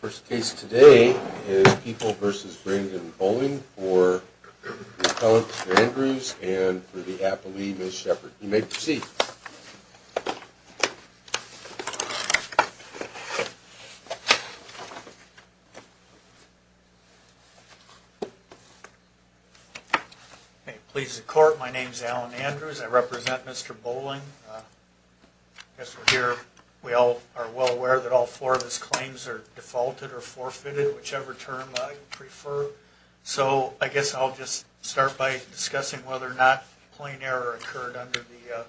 First case today is People v. Brandon Boling for the Appellant, Mr. Andrews, and for the Applee, Ms. Sheppard. You may proceed. Please the court, my name is Alan Andrews. I represent Mr. Boling. I guess we're here, we all are well aware that all four of his claims are defaulted or forfeited, whichever term I prefer. So I guess I'll just start by discussing whether or not plain error occurred under the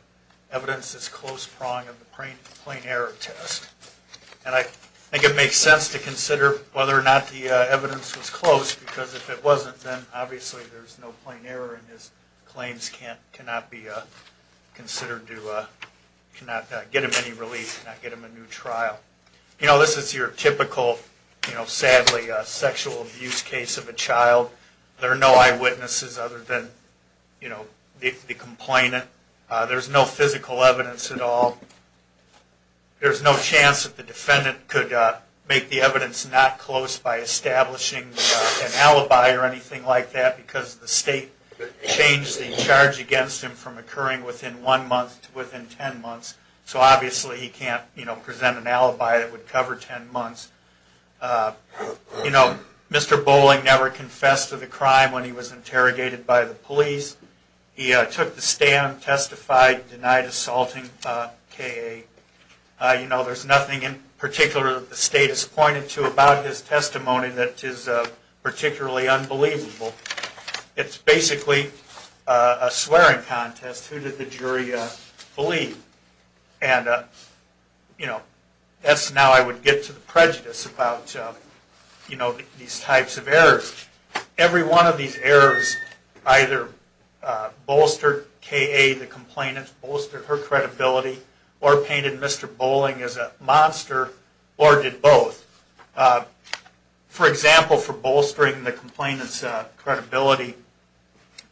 evidence that's close prong of the plain error test. And I think it makes sense to consider whether or not the evidence was close, because if it wasn't, then obviously there's no plain error and his claims cannot be considered, cannot get him any relief, cannot get him a new trial. You know, this is your typical, sadly, sexual abuse case of a child. There are no eyewitnesses other than the complainant. There's no physical evidence at all. There's no chance that the defendant could make the evidence not close by establishing an alibi or anything like that, because the state changed the charge against him from occurring within one month to within ten months. So obviously he can't present an alibi that would cover ten months. You know, Mr. Boling never confessed to the crime when he was interrogated by the police. He took the stand, testified, denied assaulting K.A. You know, there's nothing in particular that the state has pointed to about his testimony that is particularly unbelievable. It's basically a swearing contest. Who did the jury believe? And, you know, that's now I would get to the prejudice about, you know, these types of errors. Every one of these errors either bolstered K.A., the complainant, bolstered her credibility, or painted Mr. Boling as a monster, or did both. For example, for bolstering the complainant's credibility,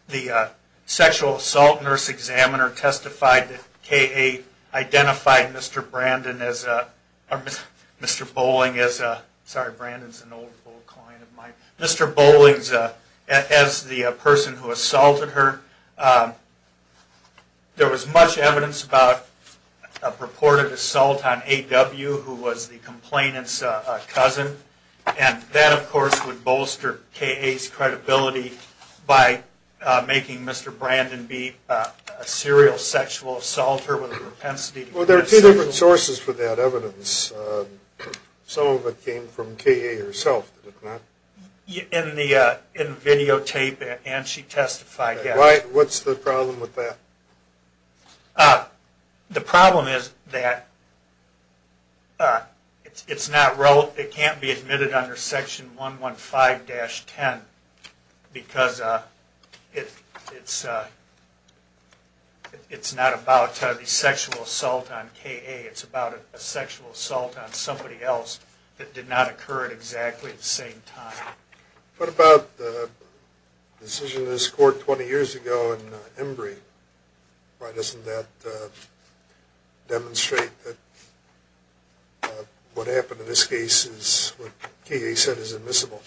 the sexual assault nurse examiner testified that K.A. identified Mr. Boling as the person who assaulted her. There was much evidence about a purported assault on A.W., who was the complainant's cousin. And that, of course, would bolster K.A.'s credibility by making Mr. Brandon be a serial sexual assaulter with a propensity to commit sexual assault. What's the problem with that? The problem is that it can't be admitted under Section 115-10 because it's not about the sexual assault on K.A. It's about a sexual assault on somebody else that did not occur at exactly the same time. What about the decision in this court 20 years ago in Embry? Why doesn't that demonstrate that what happened in this case is what K.A. said is admissible?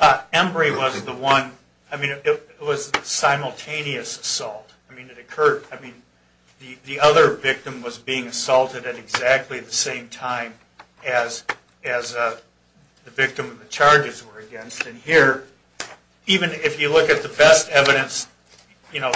Embry was the one, I mean, it was a simultaneous assault. I mean, it occurred, I mean, the other victim was being assaulted at exactly the same time as the victim of the charges were against. And here, even if you look at the best evidence, you know,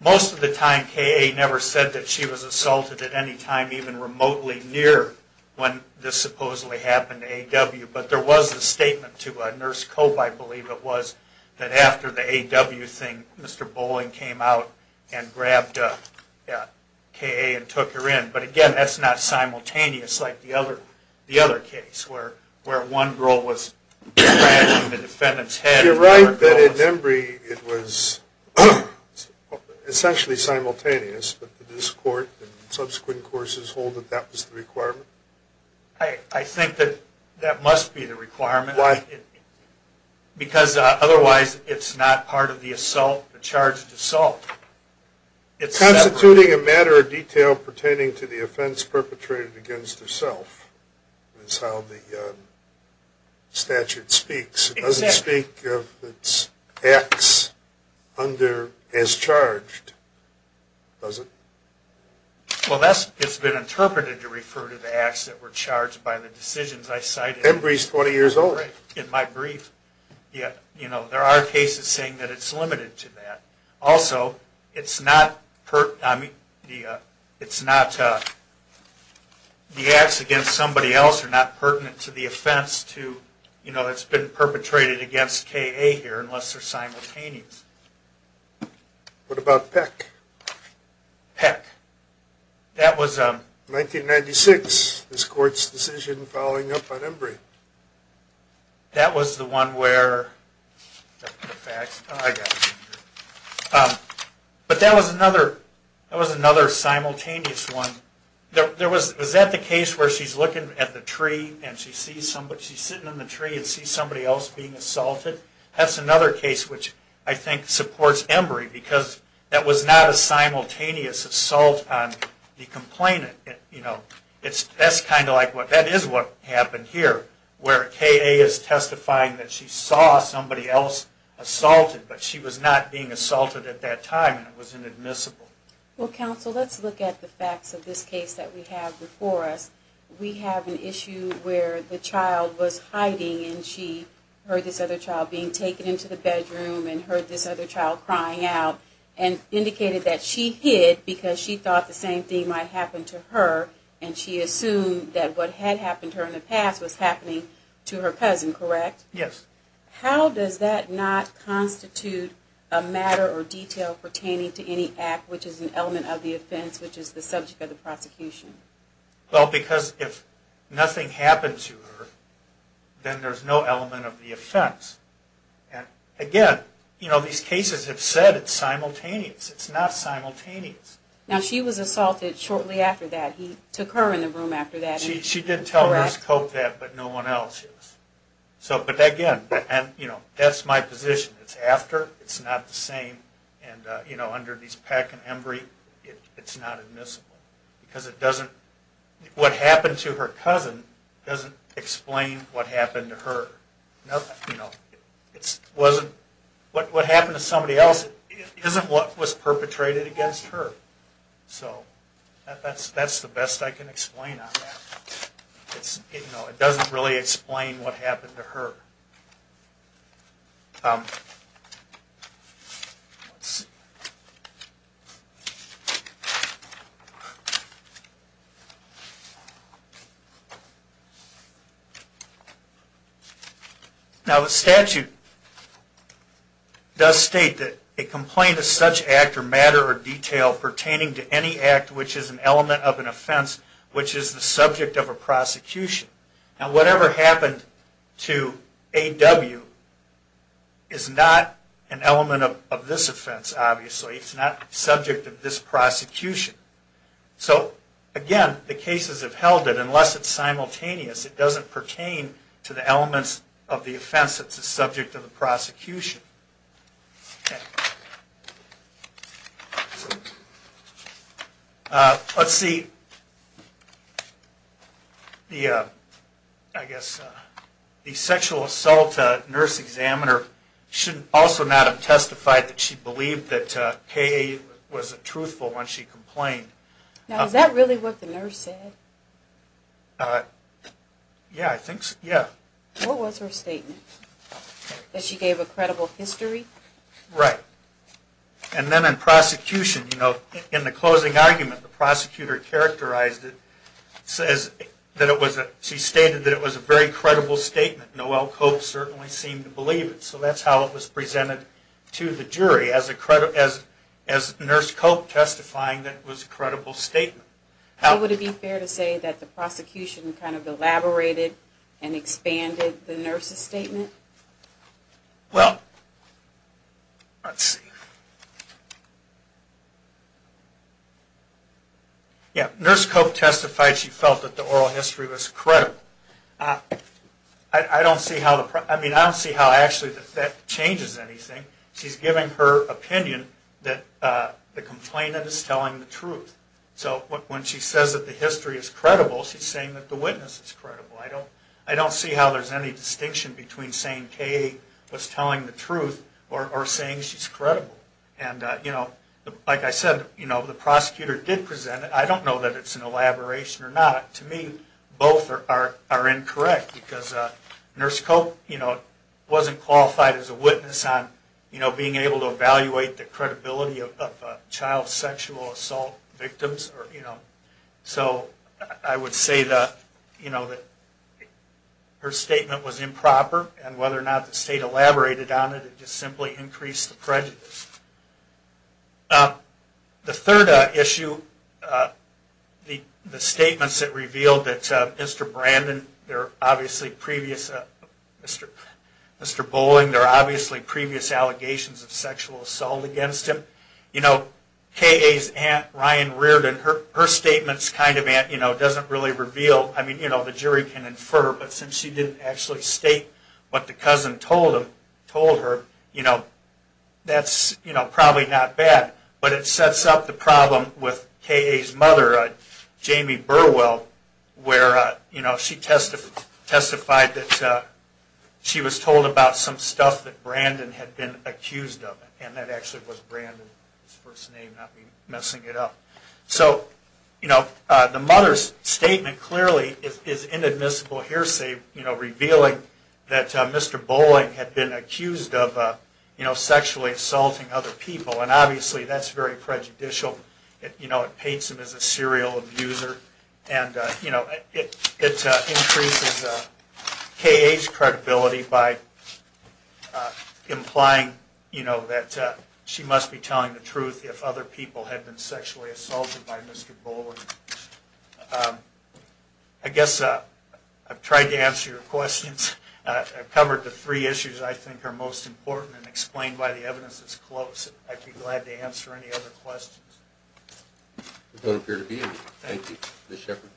most of the time K.A. never said that she was assaulted at any time even remotely near when this supposedly happened to A.W. But there was a statement to Nurse Cope, I believe it was, that after the A.W. thing, Mr. Boling came out and grabbed K.A. and took her in. But again, that's not simultaneous like the other case where one girl was grabbed in the defendant's head. You're right that in Embry it was essentially simultaneous, but this court and subsequent courses hold that that was the requirement? I think that that must be the requirement. Why? Because otherwise it's not part of the assault, the charged assault. Constituting a matter of detail pertaining to the offense perpetrated against herself is how the statute speaks. It doesn't speak of its acts as charged, does it? Well, it's been interpreted to refer to the acts that were charged by the decisions I cited. Embry's 20 years old. In my brief, there are cases saying that it's limited to that. Also, the acts against somebody else are not pertinent to the offense that's been perpetrated against K.A. here unless they're simultaneous. Peck. 1996, this court's decision following up on Embry. That was the one where... But that was another simultaneous one. Was that the case where she's looking at the tree and she's sitting in the tree and sees somebody else being assaulted? That's another case which I think supports Embry because that was not a simultaneous assault on the complainant. That is what happened here where K.A. is testifying that she saw somebody else assaulted, but she was not being assaulted at that time and it was inadmissible. Well, counsel, let's look at the facts of this case that we have before us. We have an issue where the child was hiding and she heard this other child being taken into the bedroom and heard this other child crying out and indicated that she hid because she thought the same thing might happen to her and she assumed that what had happened to her in the past was happening to her cousin, correct? Yes. How does that not constitute a matter or detail pertaining to any act which is an element of the offense which is the subject of the prosecution? Well, because if nothing happened to her, then there's no element of the offense. Again, these cases have said it's simultaneous. It's not simultaneous. Now, she was assaulted shortly after that. He took her in the room after that. She did tell Nurse Cope that, but no one else. But again, that's my position. It's after, it's not the same, and under these Peck and Embry it's not admissible because it doesn't, what happened to her cousin doesn't explain what happened to her. It wasn't, what happened to somebody else isn't what was perpetrated against her. So that's the best I can explain on that. It doesn't really explain what happened to her. Now, the statute does state that a complaint of such act or matter or detail pertaining to any act which is an element of an offense which is the subject of a prosecution. Now, whatever happened to A.W. is not an element of this offense, obviously. It's not subject of this prosecution. So, again, the cases have held it. Unless it's simultaneous, it doesn't pertain to the elements of the offense that's the subject of the prosecution. Okay. Let's see. The, I guess, the sexual assault nurse examiner should also not have testified that she believed that K.A. was truthful when she complained. Now, is that really what the nurse said? Yeah, I think so, yeah. What was her statement? That she gave a credible history? Right. And then in prosecution, you know, in the closing argument, the prosecutor characterized it, says that it was a, she stated that it was a very credible statement. Noel Cope certainly seemed to believe it. So that's how it was presented to the jury as a, as Nurse Cope testifying that it was a credible statement. Would it be fair to say that the prosecution kind of elaborated and expanded the nurse's statement? Well, let's see. Yeah, Nurse Cope testified she felt that the oral history was credible. I don't see how, I mean, I don't see how actually that changes anything. She's giving her opinion that the complainant is telling the truth. So when she says that the history is credible, she's saying that the witness is credible. I don't see how there's any distinction between saying K.A. was telling the truth or saying she's credible. And, you know, like I said, you know, the prosecutor did present it. I don't know that it's an elaboration or not. To me, both are incorrect because Nurse Cope, you know, wasn't qualified as a witness on, you know, being able to evaluate the credibility of child sexual assault victims or, you know. So I would say that, you know, that her statement was improper. And whether or not the state elaborated on it, it just simply increased the prejudice. The third issue, the statements that revealed that Mr. Brandon, there are obviously previous, Mr. Bowling, there are obviously previous allegations of sexual assault against him. You know, K.A.'s aunt, Ryan Reardon, her statements kind of, you know, doesn't really reveal. I mean, you know, the jury can infer, but since she didn't actually state what the cousin told her, you know, that's probably not bad. But it sets up the problem with K.A.'s mother, Jamie Burwell, where, you know, she testified that she was told about some stuff that Brandon had been accused of. And that actually was Brandon's first name, not me messing it up. So, you know, the mother's statement clearly is inadmissible hearsay, you know, revealing that Mr. Bowling had been accused of, you know, sexually assaulting other people. And obviously, that's very prejudicial. You know, it paints him as a serial abuser. And, you know, it increases K.A.'s credibility by implying, you know, that she must be telling the truth if other people had been sexually assaulted by Mr. Bowling. I guess I've tried to answer your questions. I've covered the three issues I think are most important and explained why the evidence is close. I'd be glad to answer any other questions. There don't appear to be any. Thank you. Ms. Shepard?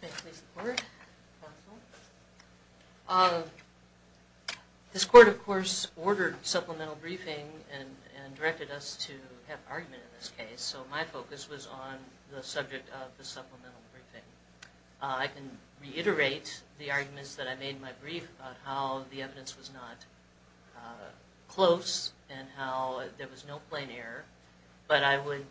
May I please report? This court, of course, ordered supplemental briefing and directed us to have argument in this case. So my focus was on the subject of the supplemental briefing. I can reiterate the arguments that I made in my brief about how the evidence was not close and how there was no plain error. But I would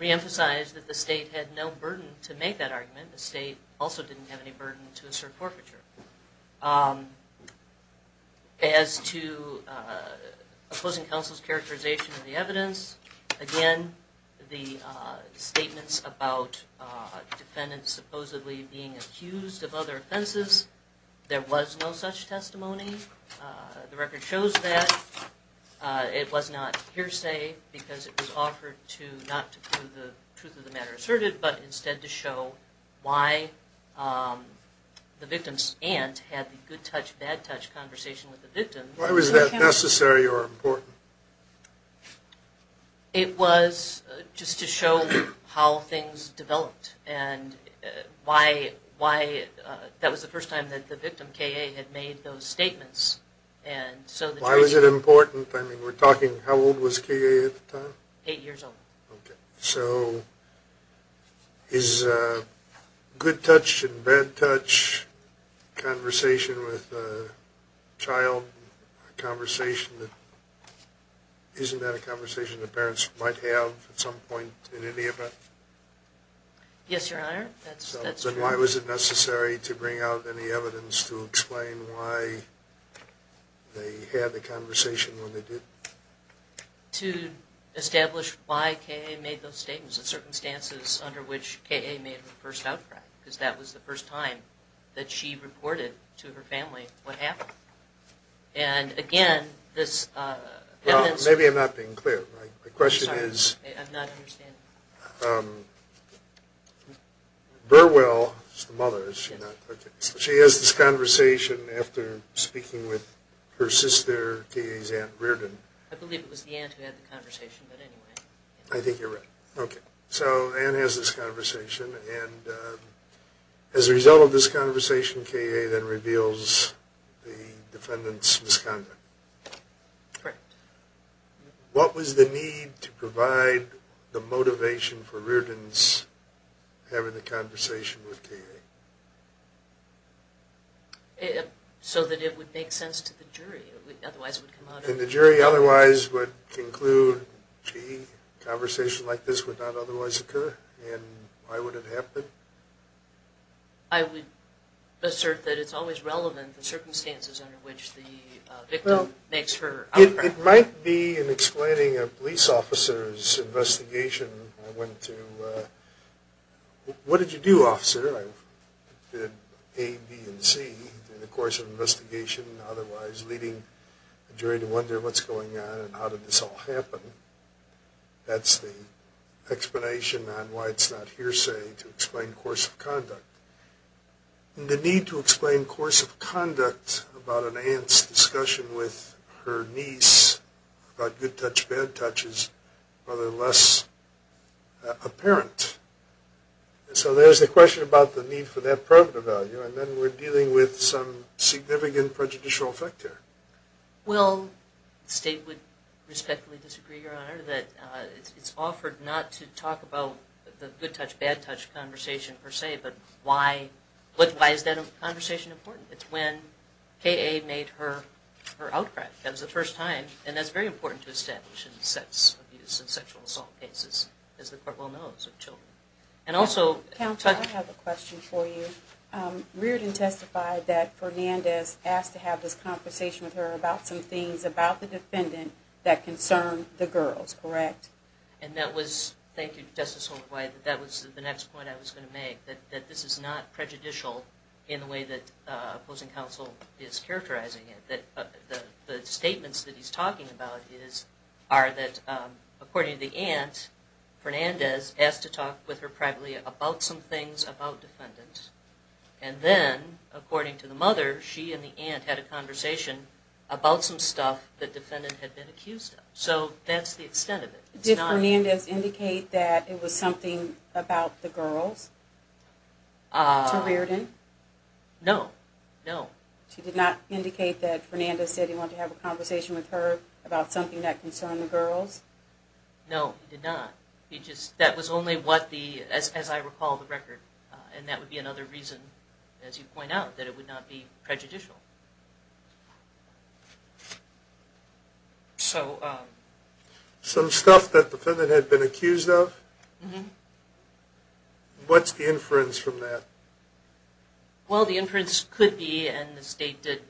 reemphasize that the state had no burden to make that argument. The state also didn't have any burden to assert forfeiture. As to opposing counsel's characterization of the evidence, again, the statements about defendants supposedly being accused of other offenses, there was no such testimony. The record shows that. It was not hearsay because it was offered to not prove the truth of the matter asserted but instead to show why the victim's aunt had the good-touch, bad-touch conversation with the victim. Why was that necessary or important? It was just to show how things developed and why that was the first time that the victim, K.A., had made those statements. Why was it important? I mean, we're talking how old was K.A. at the time? Eight years old. Okay. So is a good-touch and bad-touch conversation with a child a conversation that – isn't that a conversation that parents might have at some point in any event? Yes, Your Honor. So why was it necessary to bring out any evidence to explain why they had the conversation when they didn't? To establish why K.A. made those statements, the circumstances under which K.A. made the first outcry because that was the first time that she reported to her family what happened. And, again, this evidence – Well, maybe I'm not being clear. My question is – I'm sorry. I'm not understanding. Burwell is the mother, is she not? Okay. So she has this conversation after speaking with her sister, K.A.'s aunt, Reardon. I believe it was the aunt who had the conversation, but anyway. I think you're right. Okay. So Ann has this conversation, and as a result of this conversation, K.A. then reveals the defendant's misconduct. Correct. What was the need to provide the motivation for Reardon's having the conversation with K.A.? So that it would make sense to the jury. Otherwise it would come out – And the jury otherwise would conclude, gee, a conversation like this would not otherwise occur, and why would it happen? I would assert that it's always relevant, the circumstances under which the victim makes her outcry. It might be in explaining a police officer's investigation. I went to, what did you do, officer? I did A, B, and C in the course of the investigation, otherwise leading the jury to wonder what's going on and how did this all happen. That's the explanation on why it's not hearsay to explain course of conduct. The need to explain course of conduct about Ann's discussion with her niece, about good touch, bad touch, is rather less apparent. So there's the question about the need for that prerogative value, and then we're dealing with some significant prejudicial effect there. Well, the state would respectfully disagree, Your Honor, that it's offered not to talk about the good touch, bad touch conversation per se, but why is that conversation important? It's when K.A. made her outcry. That was the first time, and that's very important to establish in sex abuse and sexual assault cases, as the court well knows of children. Counsel, I have a question for you. Reardon testified that Fernandez asked to have this conversation with her about some things about the defendant that concern the girls, correct? Yes. And that was, thank you, Justice Holder-White, that was the next point I was going to make, that this is not prejudicial in the way that opposing counsel is characterizing it. The statements that he's talking about are that, according to the aunt, Fernandez asked to talk with her privately about some things about defendants, and then, according to the mother, she and the aunt had a conversation about some stuff that the defendant had been accused of. So that's the extent of it. Did Fernandez indicate that it was something about the girls to Reardon? No, no. She did not indicate that Fernandez said he wanted to have a conversation with her about something that concerned the girls? No, he did not. He just, that was only what the, as I recall the record, and that would be another reason, as you point out, that it would not be prejudicial. So some stuff that the defendant had been accused of? Mm-hmm. What's the inference from that? Well, the inference could be, and the state did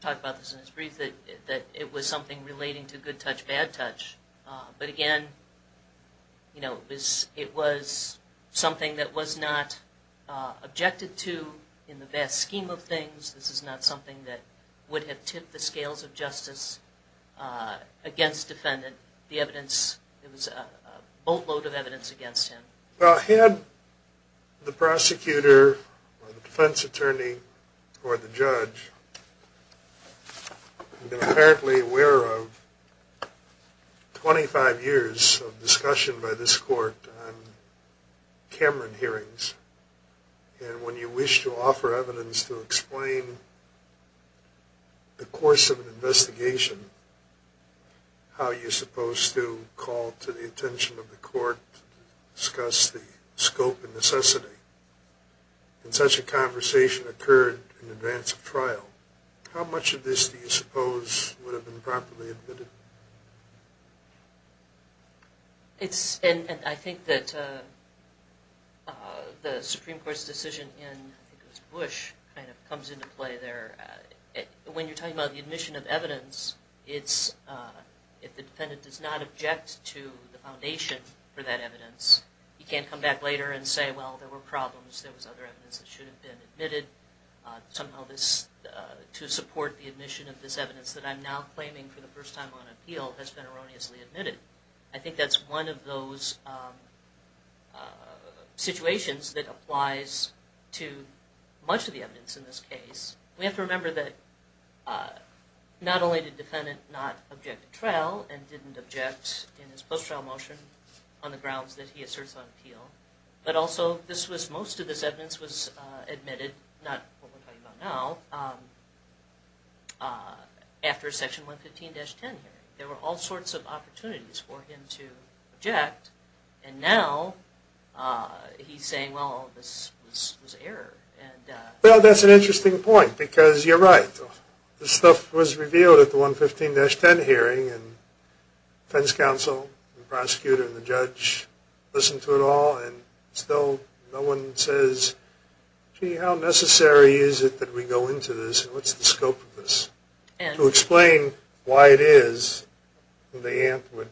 talk about this in its brief, that it was something relating to good touch, bad touch. But, again, you know, it was something that was not objected to in the vast scheme of things. This is not something that would have tipped the scales of justice against defendant. The evidence, it was a boatload of evidence against him. Well, had the prosecutor or the defense attorney or the judge been apparently aware of 25 years of discussion by this court on Cameron hearings, and when you wish to offer evidence to explain the course of an investigation, how you're supposed to call to the attention of the court to discuss the scope and necessity, and such a conversation occurred in advance of trial, how much of this do you suppose would have been properly admitted? It's, and I think that the Supreme Court's decision in, I think it was Bush, kind of comes into play there. When you're talking about the admission of evidence, if the defendant does not object to the foundation for that evidence, he can't come back later and say, well, there were problems, there was other evidence that should have been admitted. Somehow this, to support the admission of this evidence that I'm now claiming for the first time on appeal, has been erroneously admitted. I think that's one of those situations that applies to much of the evidence in this case. We have to remember that not only did the defendant not object to trial and didn't object in his post-trial motion on the grounds that he asserts on appeal, but also this was, most of this evidence was admitted, not what we're talking about now, after Section 115-10 hearing. There were all sorts of opportunities for him to object, and now he's saying, well, this was error. Well, that's an interesting point, because you're right. This stuff was revealed at the 115-10 hearing, and defense counsel and the prosecutor and the judge listened to it all, and still no one says, gee, how necessary is it that we go into this, and what's the scope of this? To explain why it is, the aunt would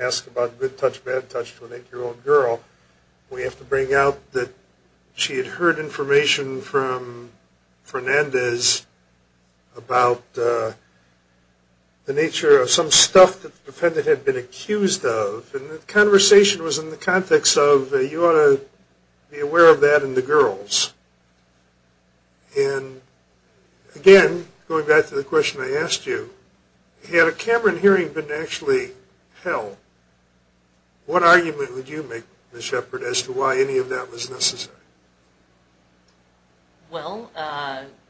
ask about good touch, bad touch to an 8-year-old girl. We have to bring out that she had heard information from Fernandez about the nature of some stuff that the defendant had been accused of, and the conversation was in the context of you ought to be aware of that in the girls. And again, going back to the question I asked you, had a Cameron hearing been actually held, what argument would you make, Ms. Shepard, as to why any of that was necessary? Well,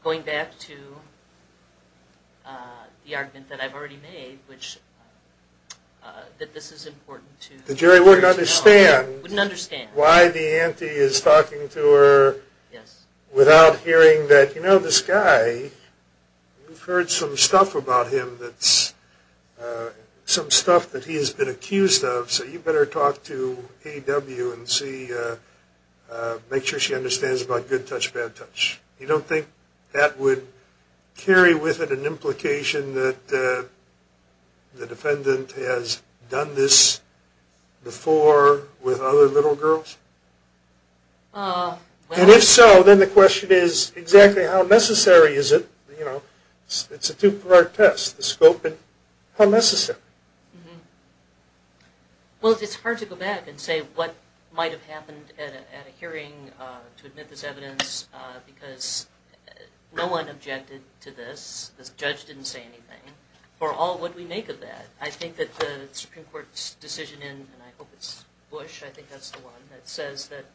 going back to the argument that I've already made, that this is important to know. The jury wouldn't understand why the auntie is talking to her without hearing that, you know, this guy, you've heard some stuff about him that's, some stuff that he's been accused of, so you better talk to A.W. and see, make sure she understands about good touch, bad touch. You don't think that would carry with it an implication that the defendant has done this before with other little girls? And if so, then the question is, exactly how necessary is it? It's a two-part test, the scope and how necessary. Well, it's hard to go back and say what might have happened at a hearing to admit this evidence, because no one objected to this, this judge didn't say anything. For all that we make of that, I think that the Supreme Court's decision, and I hope it's Bush, I think that's the one, that says that,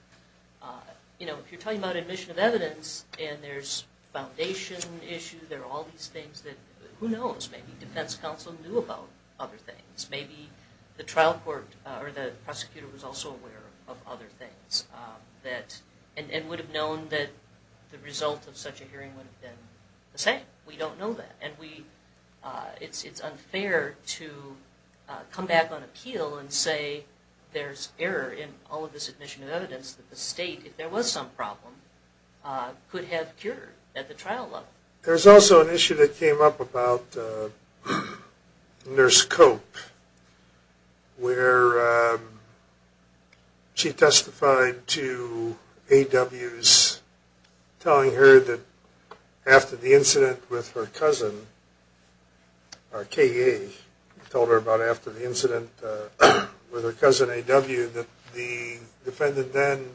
you know, if you're talking about admission of evidence and there's foundation issues, there are all these things that, who knows, maybe defense counsel knew about other things, maybe the trial court or the prosecutor was also aware of other things, and would have known that the result of such a hearing would have been the same. We don't know that. And it's unfair to come back on appeal and say there's error in all of this admission of evidence, that the state, if there was some problem, could have cured at the trial level. There's also an issue that came up about Nurse Cope, where she testified to A.W.'s telling her that after the incident with her cousin, or K.A. told her about after the incident with her cousin A.W. that the defendant then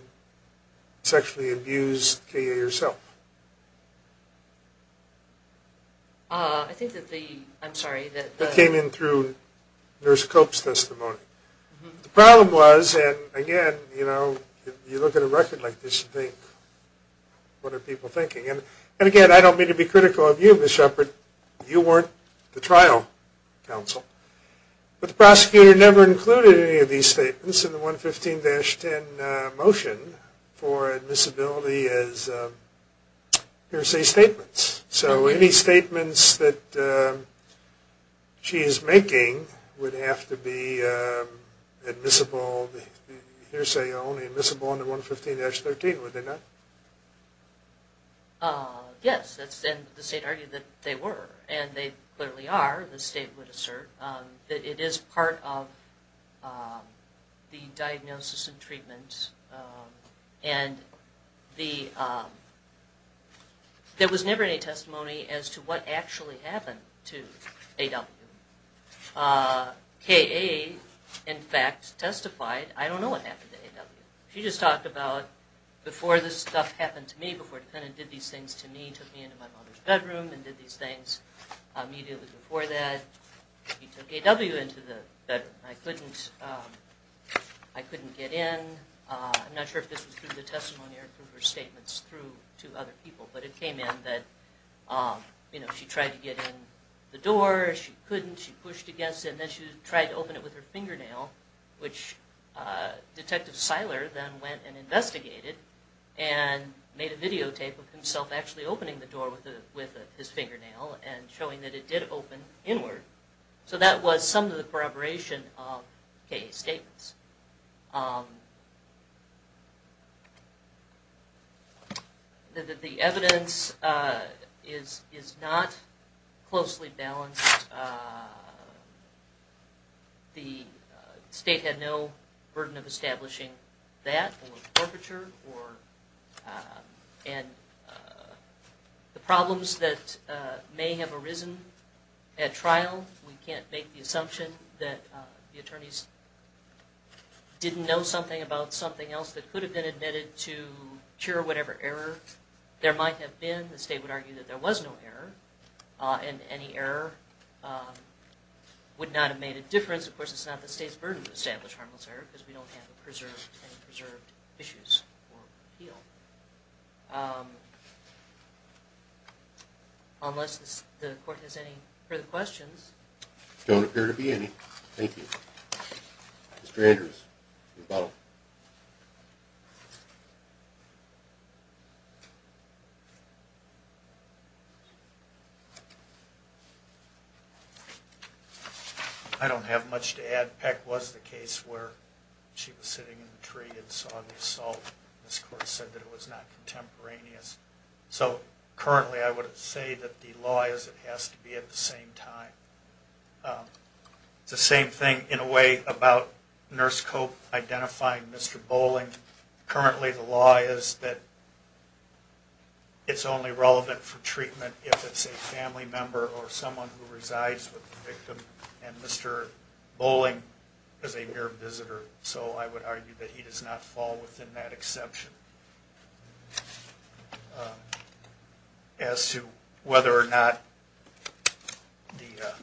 sexually abused K.A. herself. I think that the, I'm sorry. That came in through Nurse Cope's testimony. The problem was, and again, you know, you look at a record like this and think, what are people thinking? And again, I don't mean to be critical of you, Ms. Shepard. You weren't the trial counsel. But the prosecutor never included any of these statements in the 115-10 motion for admissibility as hearsay statements. Yes. So any statements that she is making would have to be admissible, hearsay only admissible under 115-13, would they not? Yes. And the state argued that they were. And they clearly are, the state would assert. It is part of the diagnosis and treatment. And there was never any testimony as to what actually happened to A.W. K.A., in fact, testified, I don't know what happened to A.W. She just talked about before this stuff happened to me, before the defendant did these things to me, took me into my mother's bedroom and did these things immediately before that, he took A.W. into the bedroom. I couldn't get in. I'm not sure if this was through the testimony or through her statements through to other people. But it came in that she tried to get in the door. She couldn't. She pushed against it. And then she tried to open it with her fingernail, which Detective Seiler then went and investigated and made a videotape of himself actually opening the door with his fingernail and showing that it did open inward. So that was some of the corroboration of K.A.'s statements. The evidence is not closely balanced. The state had no burden of establishing that, and the problems that may have arisen at trial, we can't make the assumption that the attorneys didn't know something about something else that could have been admitted to cure whatever error there might have been. The state would argue that there was no error, and any error would not have made a difference. Of course, it's not the state's burden to establish harmless error because we don't have any preserved issues or appeal. Unless the court has any further questions. There don't appear to be any. Thank you. Mr. Andrews. I don't have much to add. Ms. Peck was the case where she was sitting in the tree and saw the assault. This court said that it was not contemporaneous. So currently I would say that the law is it has to be at the same time. It's the same thing in a way about Nurse Cope identifying Mr. Bolling. Currently the law is that it's only relevant for treatment if it's a family member or someone who resides with the victim. And Mr. Bolling is a mere visitor, so I would argue that he does not fall within that exception. As to whether or not the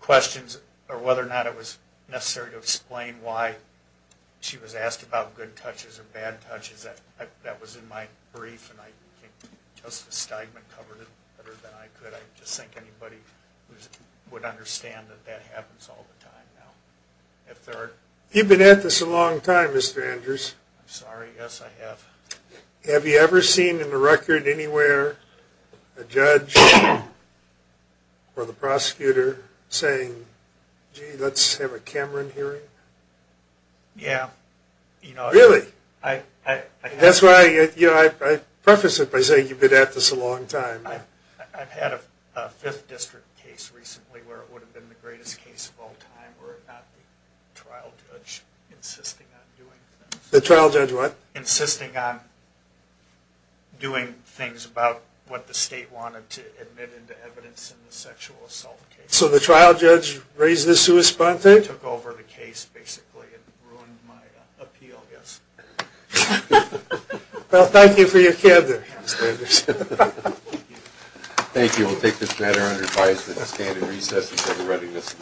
questions or whether or not it was necessary to explain why she was asked about good touches or bad touches, that was in my brief and Justice Steigman covered it better than I could. I just think anybody would understand that that happens all the time now. You've been at this a long time, Mr. Andrews. I'm sorry. Yes, I have. Have you ever seen in the record anywhere a judge or the prosecutor saying, gee, let's have a Cameron hearing? Yeah. Really? That's why I preface it by saying you've been at this a long time. I've had a Fifth District case recently where it would have been the greatest case of all time were it not for the trial judge insisting on doing things. The trial judge what? Insisting on doing things about what the state wanted to admit into evidence in the sexual assault case. So the trial judge raised this to his sponsor? Took over the case basically and ruined my appeal, yes. Well, thank you for your care there, Mr. Andrews. Thank you. We'll take this matter under advice. We're just going to recess until the readiness.